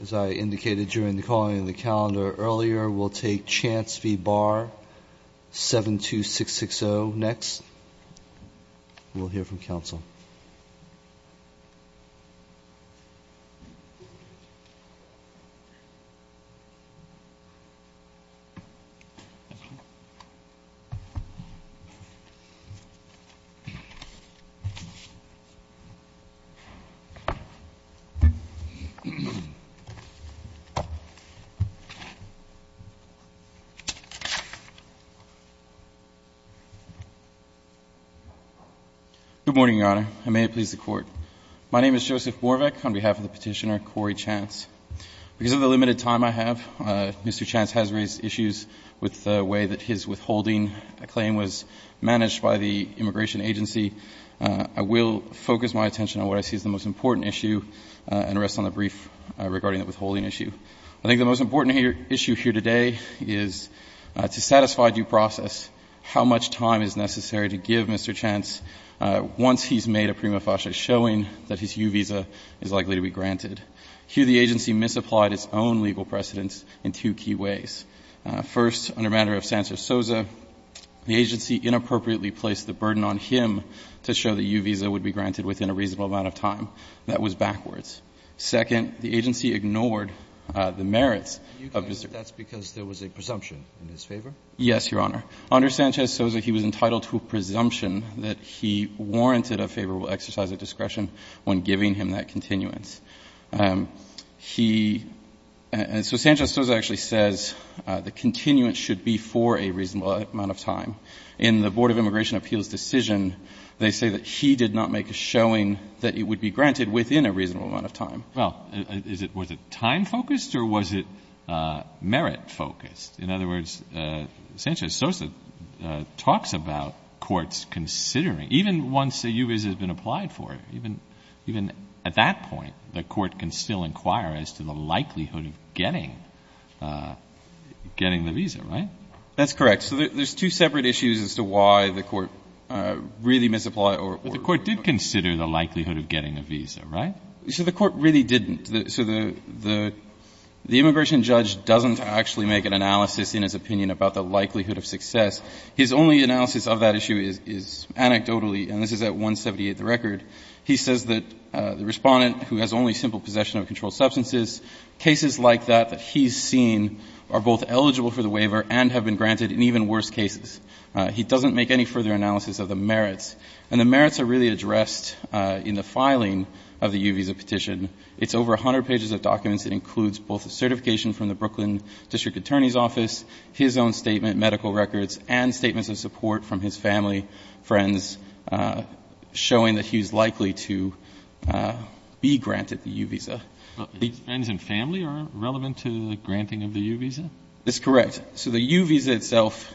As I indicated during the calling of the calendar earlier, we'll take Chance v. Barr, 72660 next. We'll hear from counsel. JOSEPH MORVEC, PETITIONER Good morning, Your Honor, and may it please the Court. My name is Joseph Morvec on behalf of the Petitioner, Corey Chance. Because of the limited time I have, Mr. Chance has raised issues with the way that his withholding claim was managed by the Immigration Agency. I will focus my attention on what I see as the most important issue and rest on the brief regarding the withholding issue. I think the most important issue here today is to satisfy due process how much time is necessary to give Mr. Chance once he's made a prima facie showing that his U visa is likely to be granted. Here the agency misapplied its own legal precedence in two key ways. First, under matter of Sanchez-Souza, the agency inappropriately placed the burden on him to show that U visa would be granted within a reasonable amount of time. That was backwards. Second, the agency ignored the merits of Mr. Chance. Alito That's because there was a presumption in his favor? JOSEPH MORVEC, PETITIONER Yes, Your Honor. Under Sanchez-Souza, he was entitled to a presumption that he warranted a favorable exercise of discretion when giving him that continuance. He — and so Sanchez-Souza actually says the continuance should be for a reasonable amount of time. In the Board of Immigration Appeals decision, they say that he did not make a showing that it would be granted within a reasonable amount of time. ALITO Well, is it — was it time-focused or was it merit-focused? In other words, Sanchez-Souza talks about courts considering — even once a U visa has been applied for, even at that point, the court can still inquire as to the likelihood of getting — getting the visa, right? JOSEPH MORVEC, PETITIONER That's correct. So there's two separate issues as to why the court really misapplied or — ALITO But the court did consider the likelihood of getting a visa, right? JOSEPH MORVEC, PETITIONER So the court really didn't. So the — the immigration judge doesn't actually make an analysis in his opinion about the likelihood of success. His only analysis of that issue is — is anecdotally, and this is at 178, the record. He says that the Respondent, who has only simple possession of controlled substances, cases like that that he's seen are both eligible for the waiver and have been granted in even worse cases. He doesn't make any further analysis of the merits. And the merits are really addressed in the filing of the U visa petition. It's over 100 pages of documents. It includes both the certification from the Brooklyn district attorney's office, his own statement, medical records, and statements of support from his family, friends, showing that he's likely to be granted the U visa. But the — ALITO Friends and family are relevant to the granting of the U visa? JOSEPH MORVEC, PETITIONER That's correct. So the U visa itself,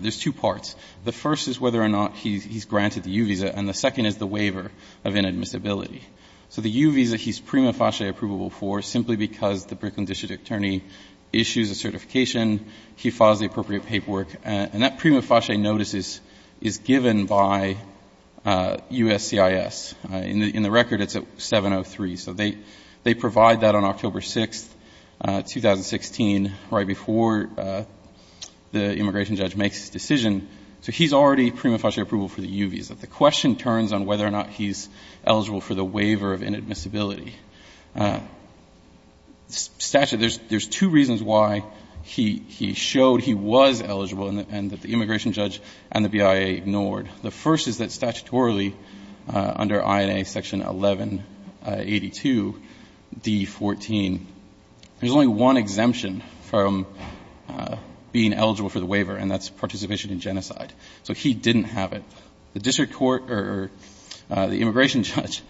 there's two parts. The first is whether or not he's granted the U visa. And the second is the waiver of inadmissibility. So the U visa he's prima facie approvable for simply because the Brooklyn district attorney issues a certification, he files the appropriate paperwork. And that prima facie notice is given by USCIS. In the record, it's at 703. So they provide that on October 6, 2016, right before the immigration judge makes his decision. So he's already prima facie approval for the U visa. The question turns on whether or not he's eligible for the waiver of inadmissibility. Statutory, there's two reasons why he showed he was eligible and that the immigration judge and the BIA ignored. The first is that statutorily, under INA section 1182d14, there's only one exemption from being eligible for the waiver, and that's participation in genocide. So he didn't have it. The district court or the immigration judge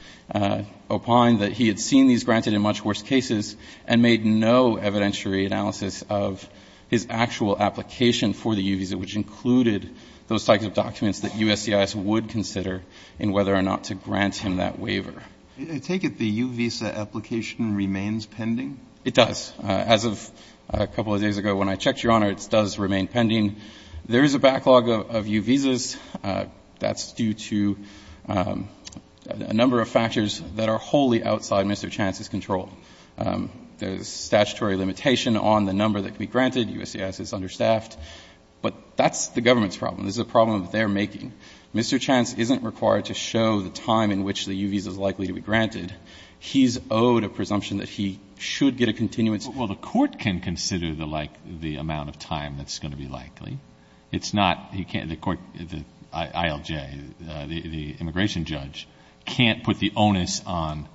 opined that he had seen these granted in much worse cases and made no evidentiary analysis of his actual application for the U visa, which included those types of documents that USCIS would consider in whether or not to grant him that waiver. I take it the U visa application remains pending? It does. As of a couple of days ago, when I checked, Your Honor, it does remain pending. There is a backlog of U visas. That's due to a number of factors that are wholly outside Mr. Chance's control. There's statutory limitation on the number that can be granted. USCIS is understaffed. But that's the government's problem. This is a problem that they're making. Mr. Chance isn't required to show the time in which the U visa is likely to be granted. He's owed a presumption that he should get a continuance. Well, the court can consider the amount of time that's going to be likely. It's not, the court, the ILJ, the immigration judge can't put the onus on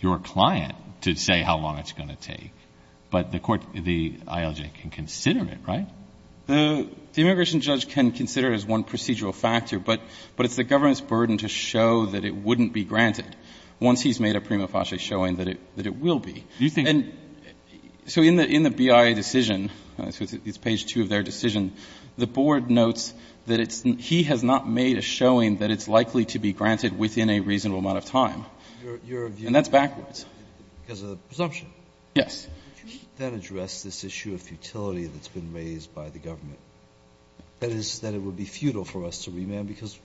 your client to say how long it's going to take. But the court, the ILJ can consider it, right? The immigration judge can consider it as one procedural factor, but it's the government's burden to show that it wouldn't be granted once he's made a prima facie showing that it will be. And so in the BIA decision, it's page 2 of their decision, the board notes that it's he has not made a showing that it's likely to be granted within a reasonable amount of time. And that's backwards. Because of the presumption? Yes. Then address this issue of futility that's been raised by the government. That is, that it would be futile for us to remand, because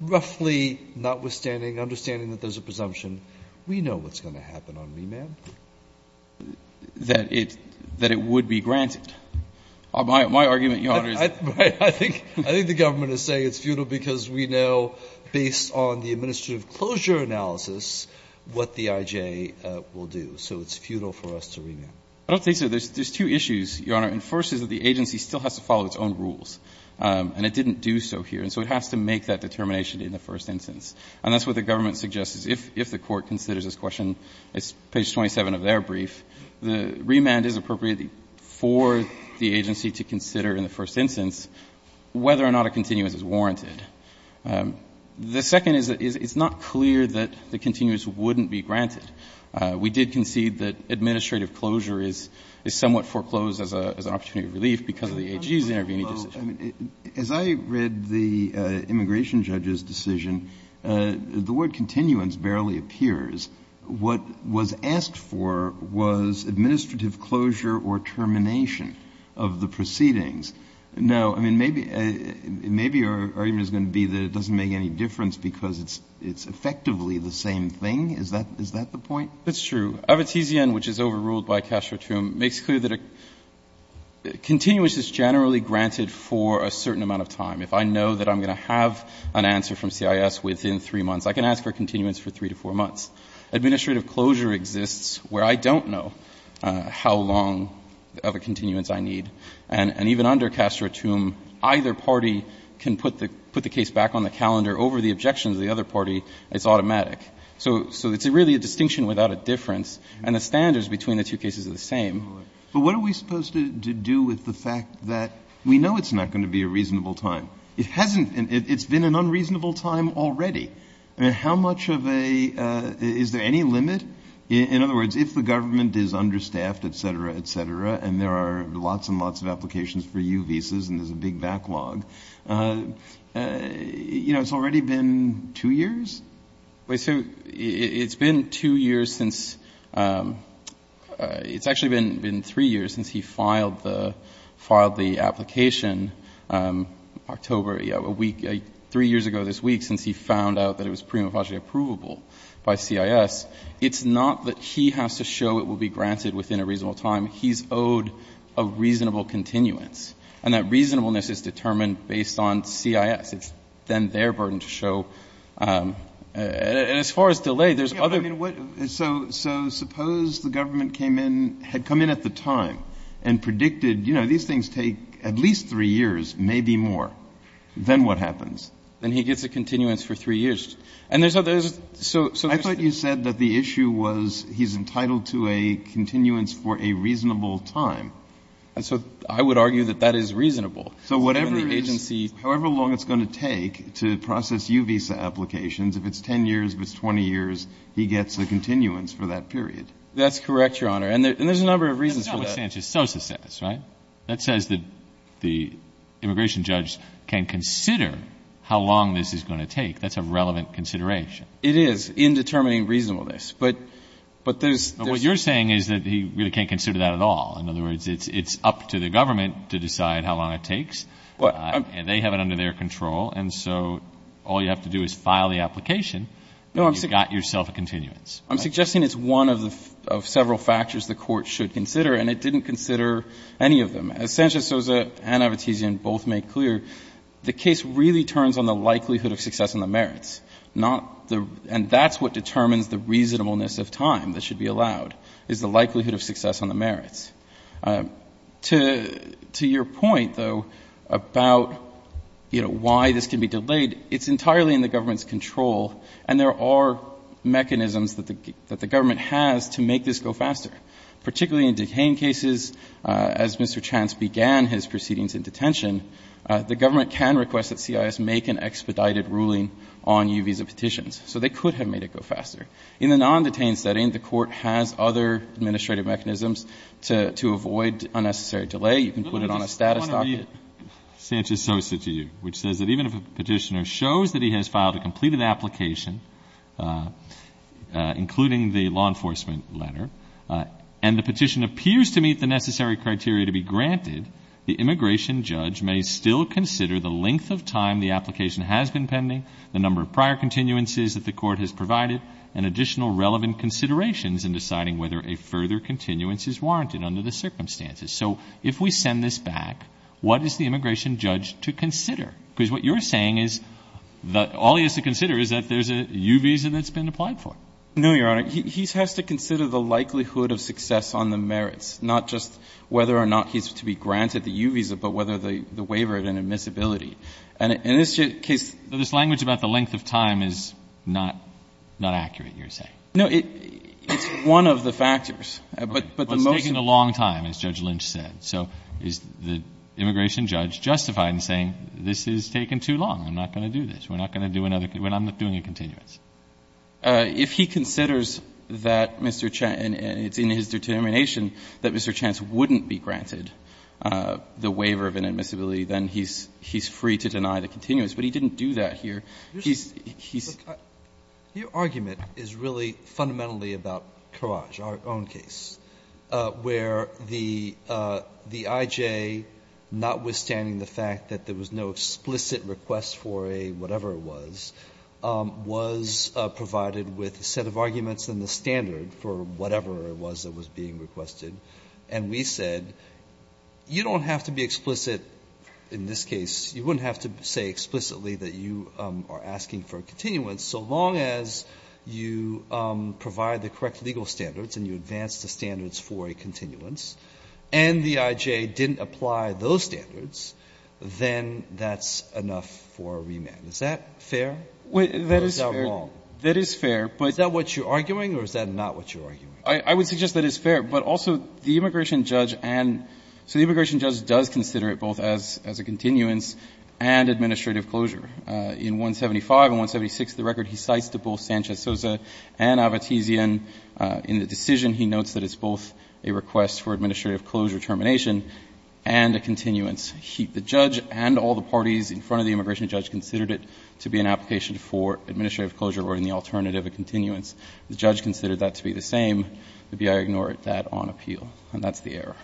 roughly, notwithstanding understanding that there's a presumption, we know what's going to happen on remand. That it would be granted. My argument, Your Honor, is that. Right. I think the government is saying it's futile because we know, based on the administrative closure analysis, what the IJ will do. So it's futile for us to remand. I don't think so. There's two issues, Your Honor. And the first is that the agency still has to follow its own rules. And it didn't do so here. And so it has to make that determination in the first instance. And that's what the government suggests, is if the Court considers this question, it's page 27 of their brief, the remand is appropriate for the agency to consider in the first instance whether or not a continuance is warranted. The second is that it's not clear that the continuance wouldn't be granted. We did concede that administrative closure is somewhat foreclosed as an opportunity of relief because of the AG's intervening decision. As I read the immigration judge's decision, the word continuance barely appears. What was asked for was administrative closure or termination of the proceedings. Now, I mean, maybe your argument is going to be that it doesn't make any difference because it's effectively the same thing. Is that the point? That's true. Avetisian, which is overruled by Castro-Trum, makes clear that a continuance is generally granted for a certain amount of time. If I know that I'm going to have an answer from CIS within three months, I can ask for a continuance for three to four months. Administrative closure exists where I don't know how long of a continuance I need. And even under Castro-Trum, either party can put the case back on the calendar over the objections of the other party. It's automatic. So it's really a distinction without a difference. And the standards between the two cases are the same. But what are we supposed to do with the fact that we know it's not going to be a reasonable time? It hasn't. It's been an unreasonable time already. I mean, how much of a – is there any limit? In other words, if the government is understaffed, et cetera, et cetera, and there are lots and lots of applications for U visas and there's a big backlog, you know, it's already been two years? Well, it's been two years since – it's actually been three years since he filed the application October – three years ago this week since he found out that it was prima facie approvable by CIS. It's not that he has to show it will be granted within a reasonable time. He's owed a reasonable continuance. And that reasonableness is determined based on CIS. It's then their burden to show. And as far as delay, there's other – But, I mean, what – so suppose the government came in – had come in at the time and predicted, you know, these things take at least three years, maybe more. Then what happens? Then he gets a continuance for three years. And there's – so there's – I thought you said that the issue was he's entitled to a continuance for a reasonable So I would argue that that is reasonable. So whatever the agency – However long it's going to take to process U visa applications, if it's 10 years, if it's 20 years, he gets a continuance for that period. That's correct, Your Honor. And there's a number of reasons for that. That's not what Sanchez-Sosa says, right? That says that the immigration judge can consider how long this is going to take. That's a relevant consideration. It is in determining reasonableness. But there's – But what you're saying is that he really can't consider that at all. In other words, it's up to the government to decide how long it takes. And they have it under their control. And so all you have to do is file the application, and you've got yourself a continuance. I'm suggesting it's one of the – of several factors the court should consider, and it didn't consider any of them. As Sanchez-Sosa and Avetisian both made clear, the case really turns on the likelihood of success on the merits, not the – and that's what determines the reasonableness of time that should be allowed, is the likelihood of success on the merits. To your point, though, about, you know, why this can be delayed, it's entirely in the government's control. And there are mechanisms that the government has to make this go faster, particularly in detain cases. As Mr. Chance began his proceedings in detention, the government can request that CIS make an expedited ruling on U visa petitions. So they could have made it go faster. In the non-detained setting, the court has other administrative mechanisms to avoid unnecessary delay. You can put it on a status docket. Sanchez-Sosa to you, which says that even if a petitioner shows that he has filed a completed application, including the law enforcement letter, and the petition appears to meet the necessary criteria to be granted, the immigration judge may still consider the length of time the application has been pending, the number of prior continuances that the court has provided, and additional relevant considerations in deciding whether a further continuance is warranted under the circumstances. So if we send this back, what is the immigration judge to consider? Because what you're saying is that all he has to consider is that there's a U visa that's been applied for. No, Your Honor. He has to consider the likelihood of success on the merits, not just whether or not he's to be granted the U visa, but whether the waiver had an admissibility. And in this case. So this language about the length of time is not accurate, you're saying? No. It's one of the factors. But the motion. Well, it's taking a long time, as Judge Lynch said. So is the immigration judge justified in saying this is taking too long, I'm not going to do this, we're not going to do another, I'm not doing a continuance? If he considers that Mr. Chance, and it's in his determination that Mr. Chance wouldn't be granted the waiver of an admissibility, then he's free to deny the continuance. But he didn't do that here. He's, he's. Your argument is really fundamentally about Courage, our own case, where the I.J., notwithstanding the fact that there was no explicit request for a whatever it was, was provided with a set of arguments and the standard for whatever it was that was being requested, and we said you don't have to be explicit in this case. You wouldn't have to say explicitly that you are asking for a continuance. So long as you provide the correct legal standards and you advance the standards for a continuance and the I.J. didn't apply those standards, then that's enough for a remand. Is that fair? That is fair. Or is that wrong? That is fair, but. Is that what you're arguing or is that not what you're arguing? I would suggest that it's fair, but also the immigration judge and, so the immigration judge does consider it both as a continuance and administrative closure. In 175 and 176 of the record, he cites to both Sanchez-Sosa and Avotisian in the decision. He notes that it's both a request for administrative closure termination and a continuance. The judge and all the parties in front of the immigration judge considered it to be an application for administrative closure or in the alternative a continuance. The judge considered that to be the same. Maybe I ignore that on appeal. And that's the error.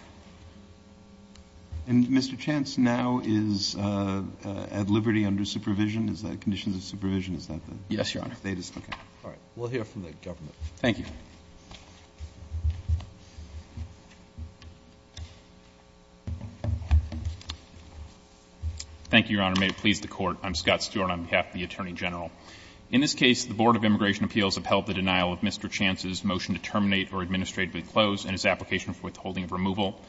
And Mr. Chance, now is at liberty under supervision? Is that conditions of supervision? Is that the status? Yes, Your Honor. Okay. All right. We'll hear from the government. Thank you. Thank you, Your Honor. May it please the Court. I'm Scott Stewart on behalf of the Attorney General. In this case, the Board of Immigration Appeals upheld the denial of Mr. Chance's motion to terminate or administratively close and his application for withholding of removal.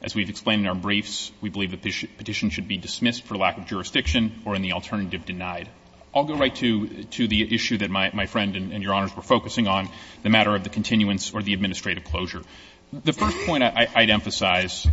As we've explained in our briefs, we believe the petition should be dismissed for lack of jurisdiction or in the alternative denied. I'll go right to the issue that my friend and Your Honors were focusing on, the matter of the continuance or the administrative closure. The first point I'd emphasize,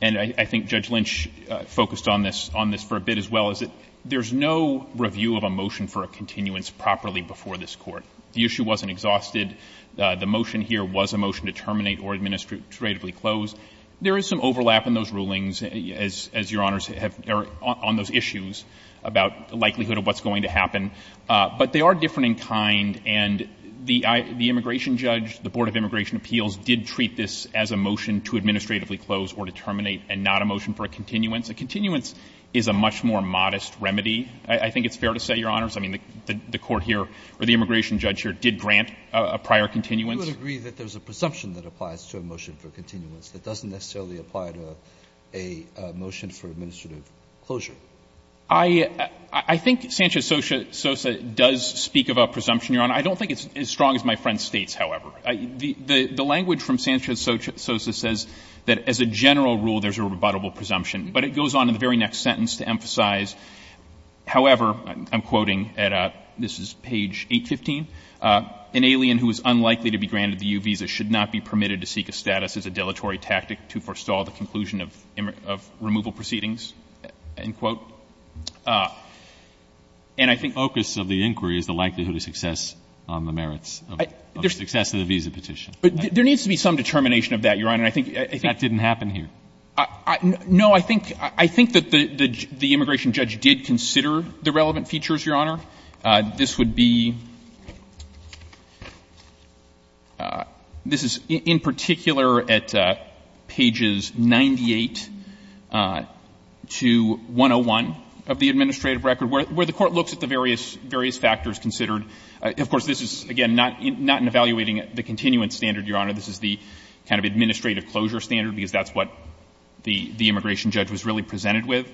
and I think Judge Lynch focused on this for a bit as well, is that there's no review of a motion for a continuance properly before this Court. The issue wasn't exhausted. The motion here was a motion to terminate or administratively close. There is some overlap in those rulings, as Your Honors have on those issues, about the likelihood of what's going to happen. But they are different in kind. And the immigration judge, the Board of Immigration Appeals, did treat this as a motion to administratively close or to terminate and not a motion for a continuance. A continuance is a much more modest remedy, I think it's fair to say, Your Honors. I mean, the Court here or the immigration judge here did grant a prior continuance. Roberts. Do you agree that there's a presumption that applies to a motion for continuance that doesn't necessarily apply to a motion for administrative closure? I think Sanchez-Sosa does speak about presumption, Your Honor. I don't think it's as strong as my friend states, however. The language from Sanchez-Sosa says that as a general rule, there's a rebuttable presumption. But it goes on in the very next sentence to emphasize, however, I'm quoting, and this is page 815, an alien who is unlikely to be granted the U visa should not be permitted to seek a status as a dilatory tactic to forestall the conclusion of removal proceedings, end quote. And I think the focus of the inquiry is the likelihood of success on the merits of the success of the visa petition. There needs to be some determination of that, Your Honor. That didn't happen here. No. I think that the immigration judge did consider the relevant features, Your Honor. This would be — this is in particular at pages 98 to 101 of the administrative record, where the Court looks at the various factors considered. Of course, this is, again, not in evaluating the continuance standard, Your Honor. This is the kind of administrative closure standard, because that's what the immigration judge was really presented with.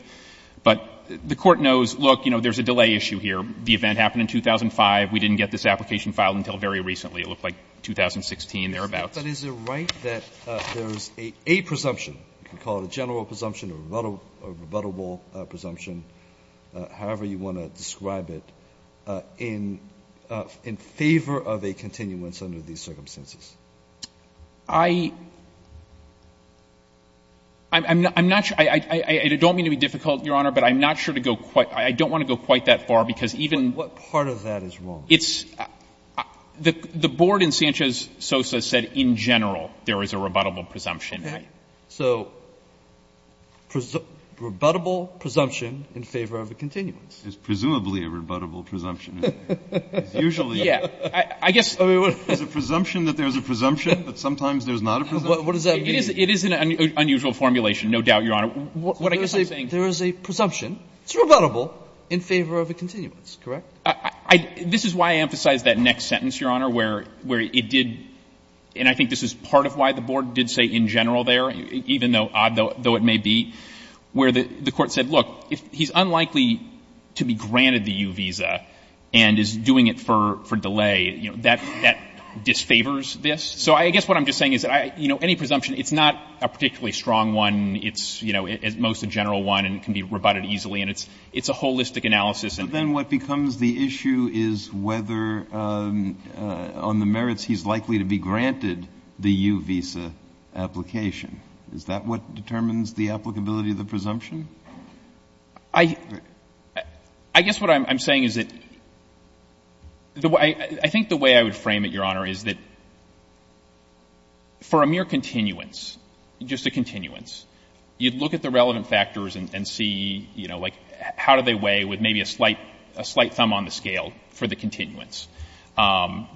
But the Court knows, look, you know, there's a delay issue here. The event happened in 2005. We didn't get this application filed until very recently. It looked like 2016, thereabouts. Alitoso. But is it right that there's a presumption, you can call it a general presumption or a rebuttable presumption, however you want to describe it, in favor of a continuance under these circumstances? I'm not sure. I don't mean to be difficult, Your Honor, but I'm not sure to go quite — I don't want to go quite that far, because even— But what part of that is wrong? It's — the Board in Sanchez-Sosa said in general there is a rebuttable presumption. Okay. So rebuttable presumption in favor of a continuance. It's presumably a rebuttable presumption. It's usually a— I guess— It's a presumption that there's a presumption, but sometimes there's not a presumption. What does that mean? It is an unusual formulation, no doubt, Your Honor. There is a presumption. It's rebuttable in favor of a continuance, correct? This is why I emphasized that next sentence, Your Honor, where it did — and I think this is part of why the Board did say in general there, even though odd, though it may be, where the Court said, look, he's unlikely to be granted the U visa and is doing it for delay. That disfavors this. So I guess what I'm just saying is that, you know, any presumption, it's not a particularly strong one. It's, you know, most a general one and can be rebutted easily, and it's a holistic analysis. But then what becomes the issue is whether on the merits he's likely to be granted the U visa application. Is that what determines the applicability of the presumption? I guess what I'm saying is that — I think the way I would frame it, Your Honor, is that for a mere continuance, just a continuance, you'd look at the relevant factors and see, you know, like how do they weigh with maybe a slight — a slight thumb on the scale for the continuance.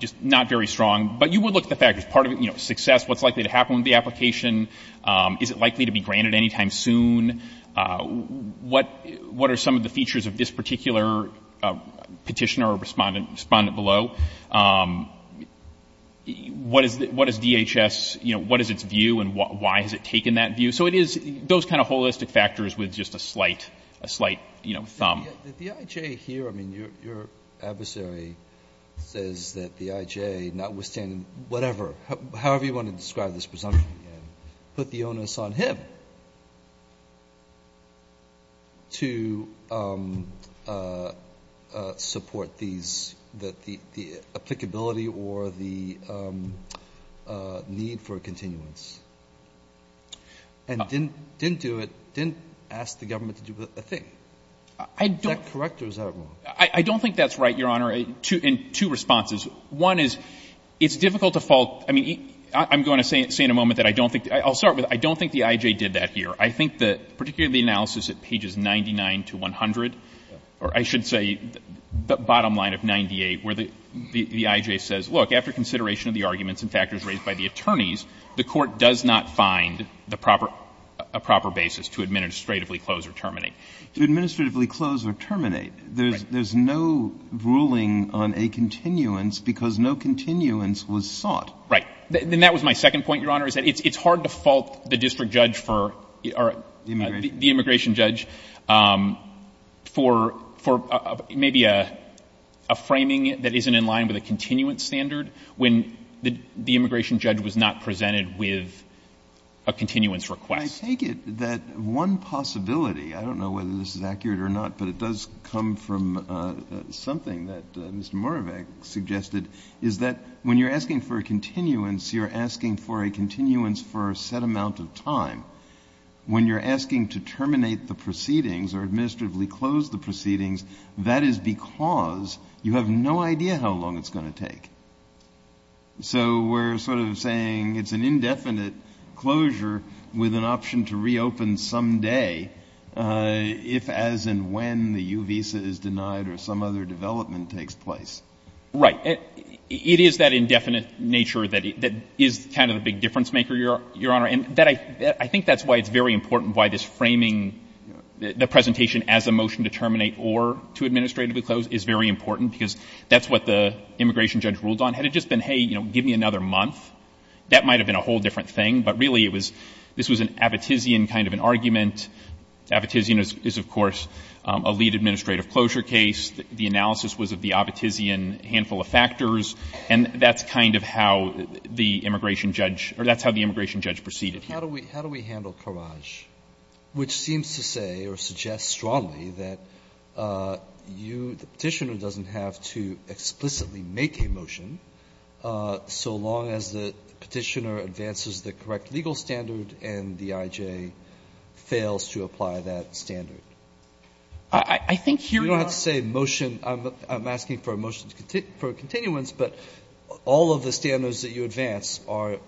Just not very strong. But you would look at the factors. Part of it, you know, success, what's likely to happen with the application. Is it likely to be granted anytime soon? What are some of the features of this particular petitioner or respondent below? What is DHS — you know, what is its view and why has it taken that view? So it is those kind of holistic factors with just a slight — a slight, you know, thumb. The I.J. here, I mean, your adversary says that the I.J. notwithstanding whatever, however you want to describe this presumption, put the onus on him. He did it to support these — the applicability or the need for a continuance and didn't do it — didn't ask the government to do a thing. Is that correct or is that wrong? I don't think that's right, Your Honor, in two responses. One is it's difficult to fault — I mean, I'm going to say in a moment that I don't think — I'll start with I don't think the I.J. did that here. I think that, particularly the analysis at pages 99 to 100, or I should say the bottom line of 98, where the I.J. says, look, after consideration of the arguments and factors raised by the attorneys, the Court does not find the proper — a proper basis to administratively close or terminate. To administratively close or terminate. Right. There's no ruling on a continuance because no continuance was sought. Right. And that was my second point, Your Honor, is that it's hard to fault the district judge for — or the immigration judge for maybe a framing that isn't in line with a continuance standard when the immigration judge was not presented with a continuance request. I take it that one possibility — I don't know whether this is accurate or not, but it does come from something that Mr. Moravec suggested — is that when you're asking for a continuance, you're asking for a continuance for a set amount of time. When you're asking to terminate the proceedings or administratively close the proceedings, that is because you have no idea how long it's going to take. So we're sort of saying it's an indefinite closure with an option to reopen someday if, as and when, the U visa is denied or some other development takes place. Right. It is that indefinite nature that is kind of the big difference-maker, Your Honor. And I think that's why it's very important why this framing — the presentation as a motion to terminate or to administratively close is very important, because that's what the immigration judge ruled on. Had it just been, hey, you know, give me another month, that might have been a whole different thing. But really it was — this was an Abbottisian kind of an argument. Abbottisian is, of course, a lead administrative closure case. The analysis was of the Abbottisian handful of factors. And that's kind of how the immigration judge — or that's how the immigration judge proceeded here. Roberts. How do we handle Carrage, which seems to say or suggest strongly that you, the Petitioner, doesn't have to explicitly make a motion so long as the Petitioner advances the correct legal standard and the IJ fails to apply that standard? I think here you are — You don't have to say motion. I'm asking for a motion for a continuance. But all of the standards that you advance are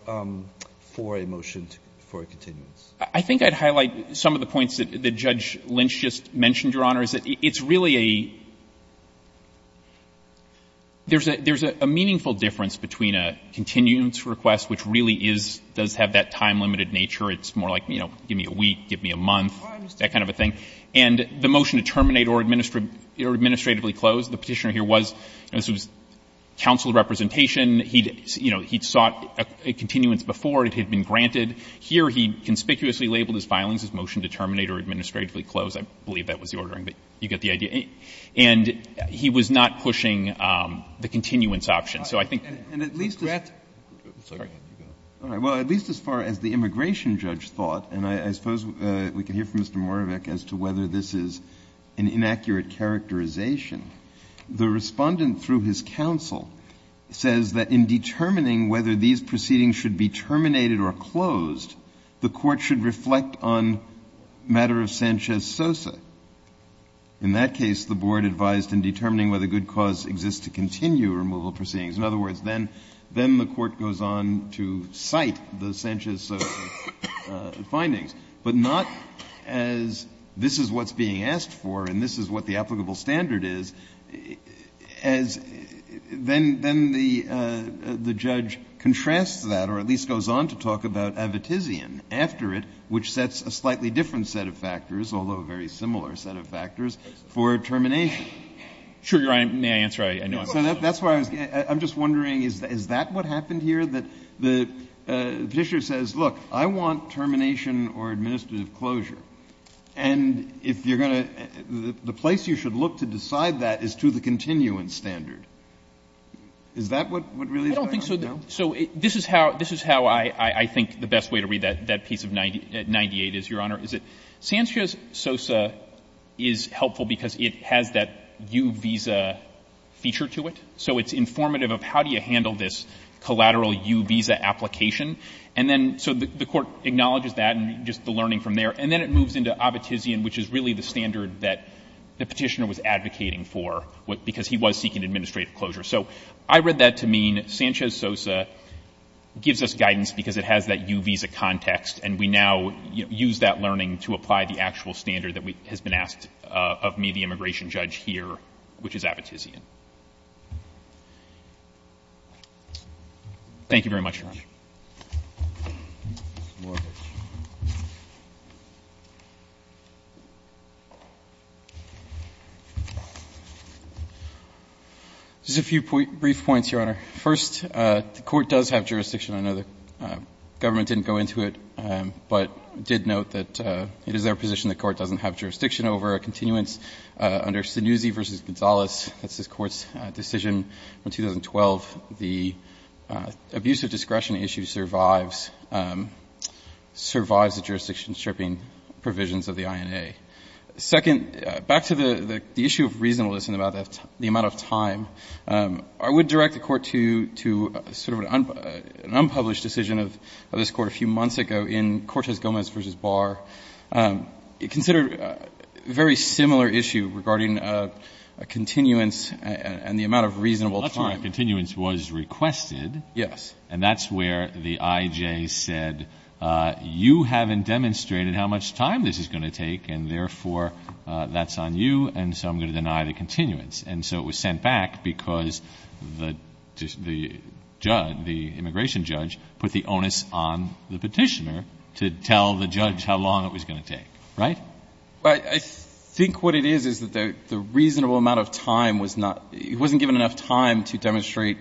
for a motion for a continuance. I think I'd highlight some of the points that Judge Lynch just mentioned, Your Honor, is that it's really a — there's a meaningful difference between a continuance request, which really is — does have that time-limited nature. It's more like, you know, give me a week, give me a month, that kind of a thing. And the motion to terminate or administratively close, the Petitioner here was — this was counsel representation. He'd, you know, he'd sought a continuance before. It had been granted. Here he conspicuously labeled his filings as motion to terminate or administratively close. I believe that was the ordering, but you get the idea. And he was not pushing the continuance option. So I think — And at least as — Sorry. All right. Well, at least as far as the immigration judge thought, and I suppose we can hear from Mr. Moravec as to whether this is an inaccurate characterization, the Respondent, through his counsel, says that in determining whether these proceedings should be terminated or closed, the Court should reflect on matter of Sanchez-Sosa. In that case, the Board advised in determining whether good cause exists to continue removal proceedings. In other words, then — then the Court goes on to cite the Sanchez-Sosa findings, but not as this is what's being asked for and this is what the applicable standard is, as — then — then the — the judge contrasts that, or at least goes on to talk about Avetisian after it, which sets a slightly different set of factors, although a very similar set of factors, for termination. Sure. Your Honor, may I answer? I know I'm — So that's why I was — I'm just wondering, is that what happened here? That the — the Petitioner says, look, I want termination or administrative closure, and if you're going to — the place you should look to decide that is to the continuance standard. Is that what really is going on? I don't think so. So this is how — this is how I think the best way to read that piece of 98 is, Your Honor, is that Sanchez-Sosa is helpful because it has that U visa feature to it. So it's informative of how do you handle this collateral U visa application. And then — so the Court acknowledges that and just the learning from there. And then it moves into Avetisian, which is really the standard that the Petitioner was advocating for, because he was seeking administrative closure. So I read that to mean Sanchez-Sosa gives us guidance because it has that U visa context, and we now use that learning to apply the actual standard that we — has been asked of me, the immigration judge, here, which is Avetisian. Thank you very much, Your Honor. Roberts. There's a few brief points, Your Honor. First, the Court does have jurisdiction. I know the government didn't go into it, but did note that it is their position the Court doesn't have jurisdiction over a continuance under Stannuzzi v. Gonzales. That's this Court's decision in 2012. The abuse of discretion issue survives — survives the jurisdiction stripping provisions of the INA. Second, back to the issue of reasonableness and about the amount of time, I would direct the Court to sort of an unpublished decision of this Court a few months ago in Cortez-Gomez v. Barr. Consider a very similar issue regarding a continuance and the amount of reasonable time. That's where a continuance was requested. Yes. And that's where the IJ said, you haven't demonstrated how much time this is going to take, and therefore, that's on you, and so I'm going to deny the continuance. And so it was sent back because the judge, the immigration judge, put the onus on the on how long it was going to take, right? I think what it is, is that the reasonable amount of time was not — it wasn't given enough time to demonstrate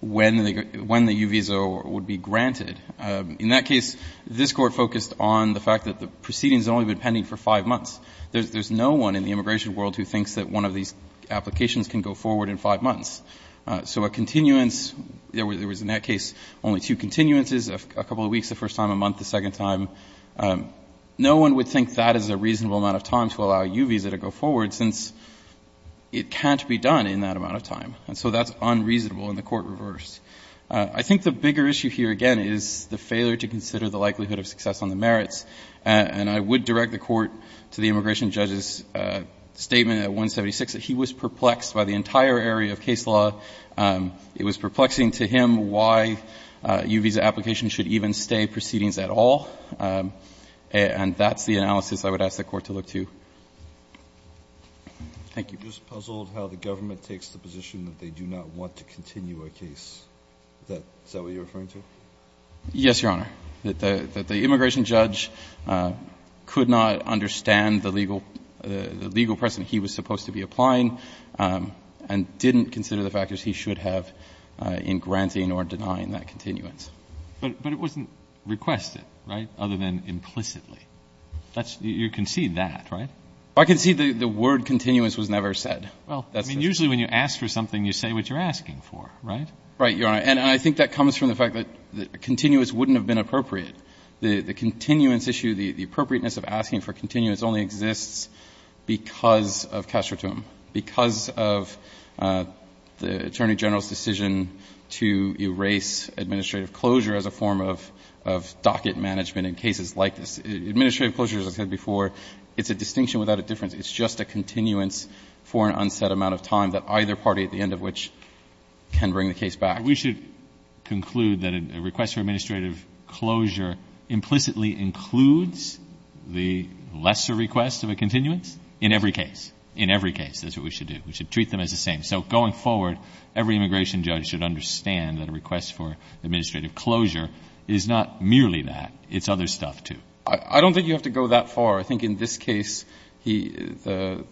when the U visa would be granted. In that case, this Court focused on the fact that the proceedings had only been pending for five months. There's no one in the immigration world who thinks that one of these applications can go forward in five months. So a continuance — there was, in that case, only two continuances, a couple of weeks the first time, a month the second time. No one would think that is a reasonable amount of time to allow a U visa to go forward since it can't be done in that amount of time. And so that's unreasonable, and the Court reversed. I think the bigger issue here, again, is the failure to consider the likelihood of success on the merits. And I would direct the Court to the immigration judge's statement at 176 that he was perplexed by the entire area of case law. It was perplexing to him why a U visa application should even stay proceedings at all, and that's the analysis I would ask the Court to look to. Thank you. Kennedy. Just puzzled how the government takes the position that they do not want to continue a case. Is that what you're referring to? Yes, Your Honor. The immigration judge could not understand the legal precedent he was supposed to be applying and didn't consider the factors he should have in granting or denying that continuance. But it wasn't requested, right, other than implicitly. You concede that, right? I concede the word continuance was never said. Well, I mean, usually when you ask for something, you say what you're asking for, right? Right, Your Honor. And I think that comes from the fact that continuance wouldn't have been appropriate. The continuance issue, the appropriateness of asking for continuance only exists because of castratum, because of the Attorney General's decision to erase administrative closure as a form of docket management in cases like this. Administrative closure, as I said before, it's a distinction without a difference. It's just a continuance for an unsaid amount of time that either party, at the end of which, can bring the case back. But we should conclude that a request for administrative closure implicitly includes the lesser request of a continuance in every case. In every case, that's what we should do. We should treat them as the same. So going forward, every immigration judge should understand that a request for administrative closure is not merely that. It's other stuff, too. I don't think you have to go that far. I think in this case, the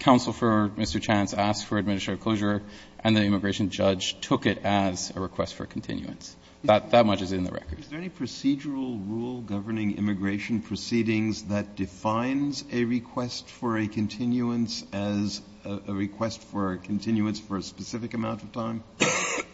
counsel for Mr. Chance asked for administrative closure, and the immigration judge took it as a request for continuance. That much is in the record. Is there any procedural rule governing immigration proceedings that defines a request for a continuance as a request for a continuance for a specific amount of time?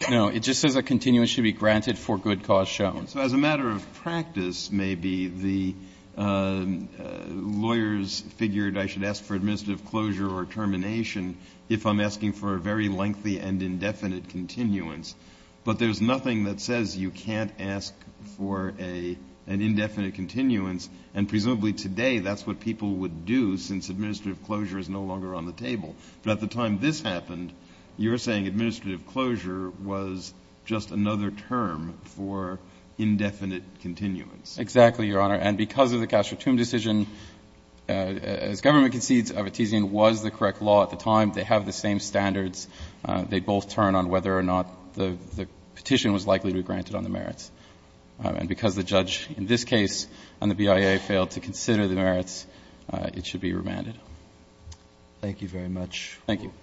No. It just says a continuance should be granted for good cause shown. So as a matter of practice, maybe the lawyers figured I should ask for administrative closure or termination if I'm asking for a very lengthy and indefinite continuance. But there's nothing that says you can't ask for an indefinite continuance. And presumably today, that's what people would do since administrative closure is no longer on the table. But at the time this happened, you're saying administrative closure was just another term for indefinite continuance. Exactly, Your Honor. And because of the Castro-Toome decision, as government concedes, Abitizian was the correct law at the time. They have the same standards. They both turn on whether or not the petition was likely to be granted on the merits. And because the judge in this case on the BIA failed to consider the merits, it should be remanded. Thank you very much. Thank you.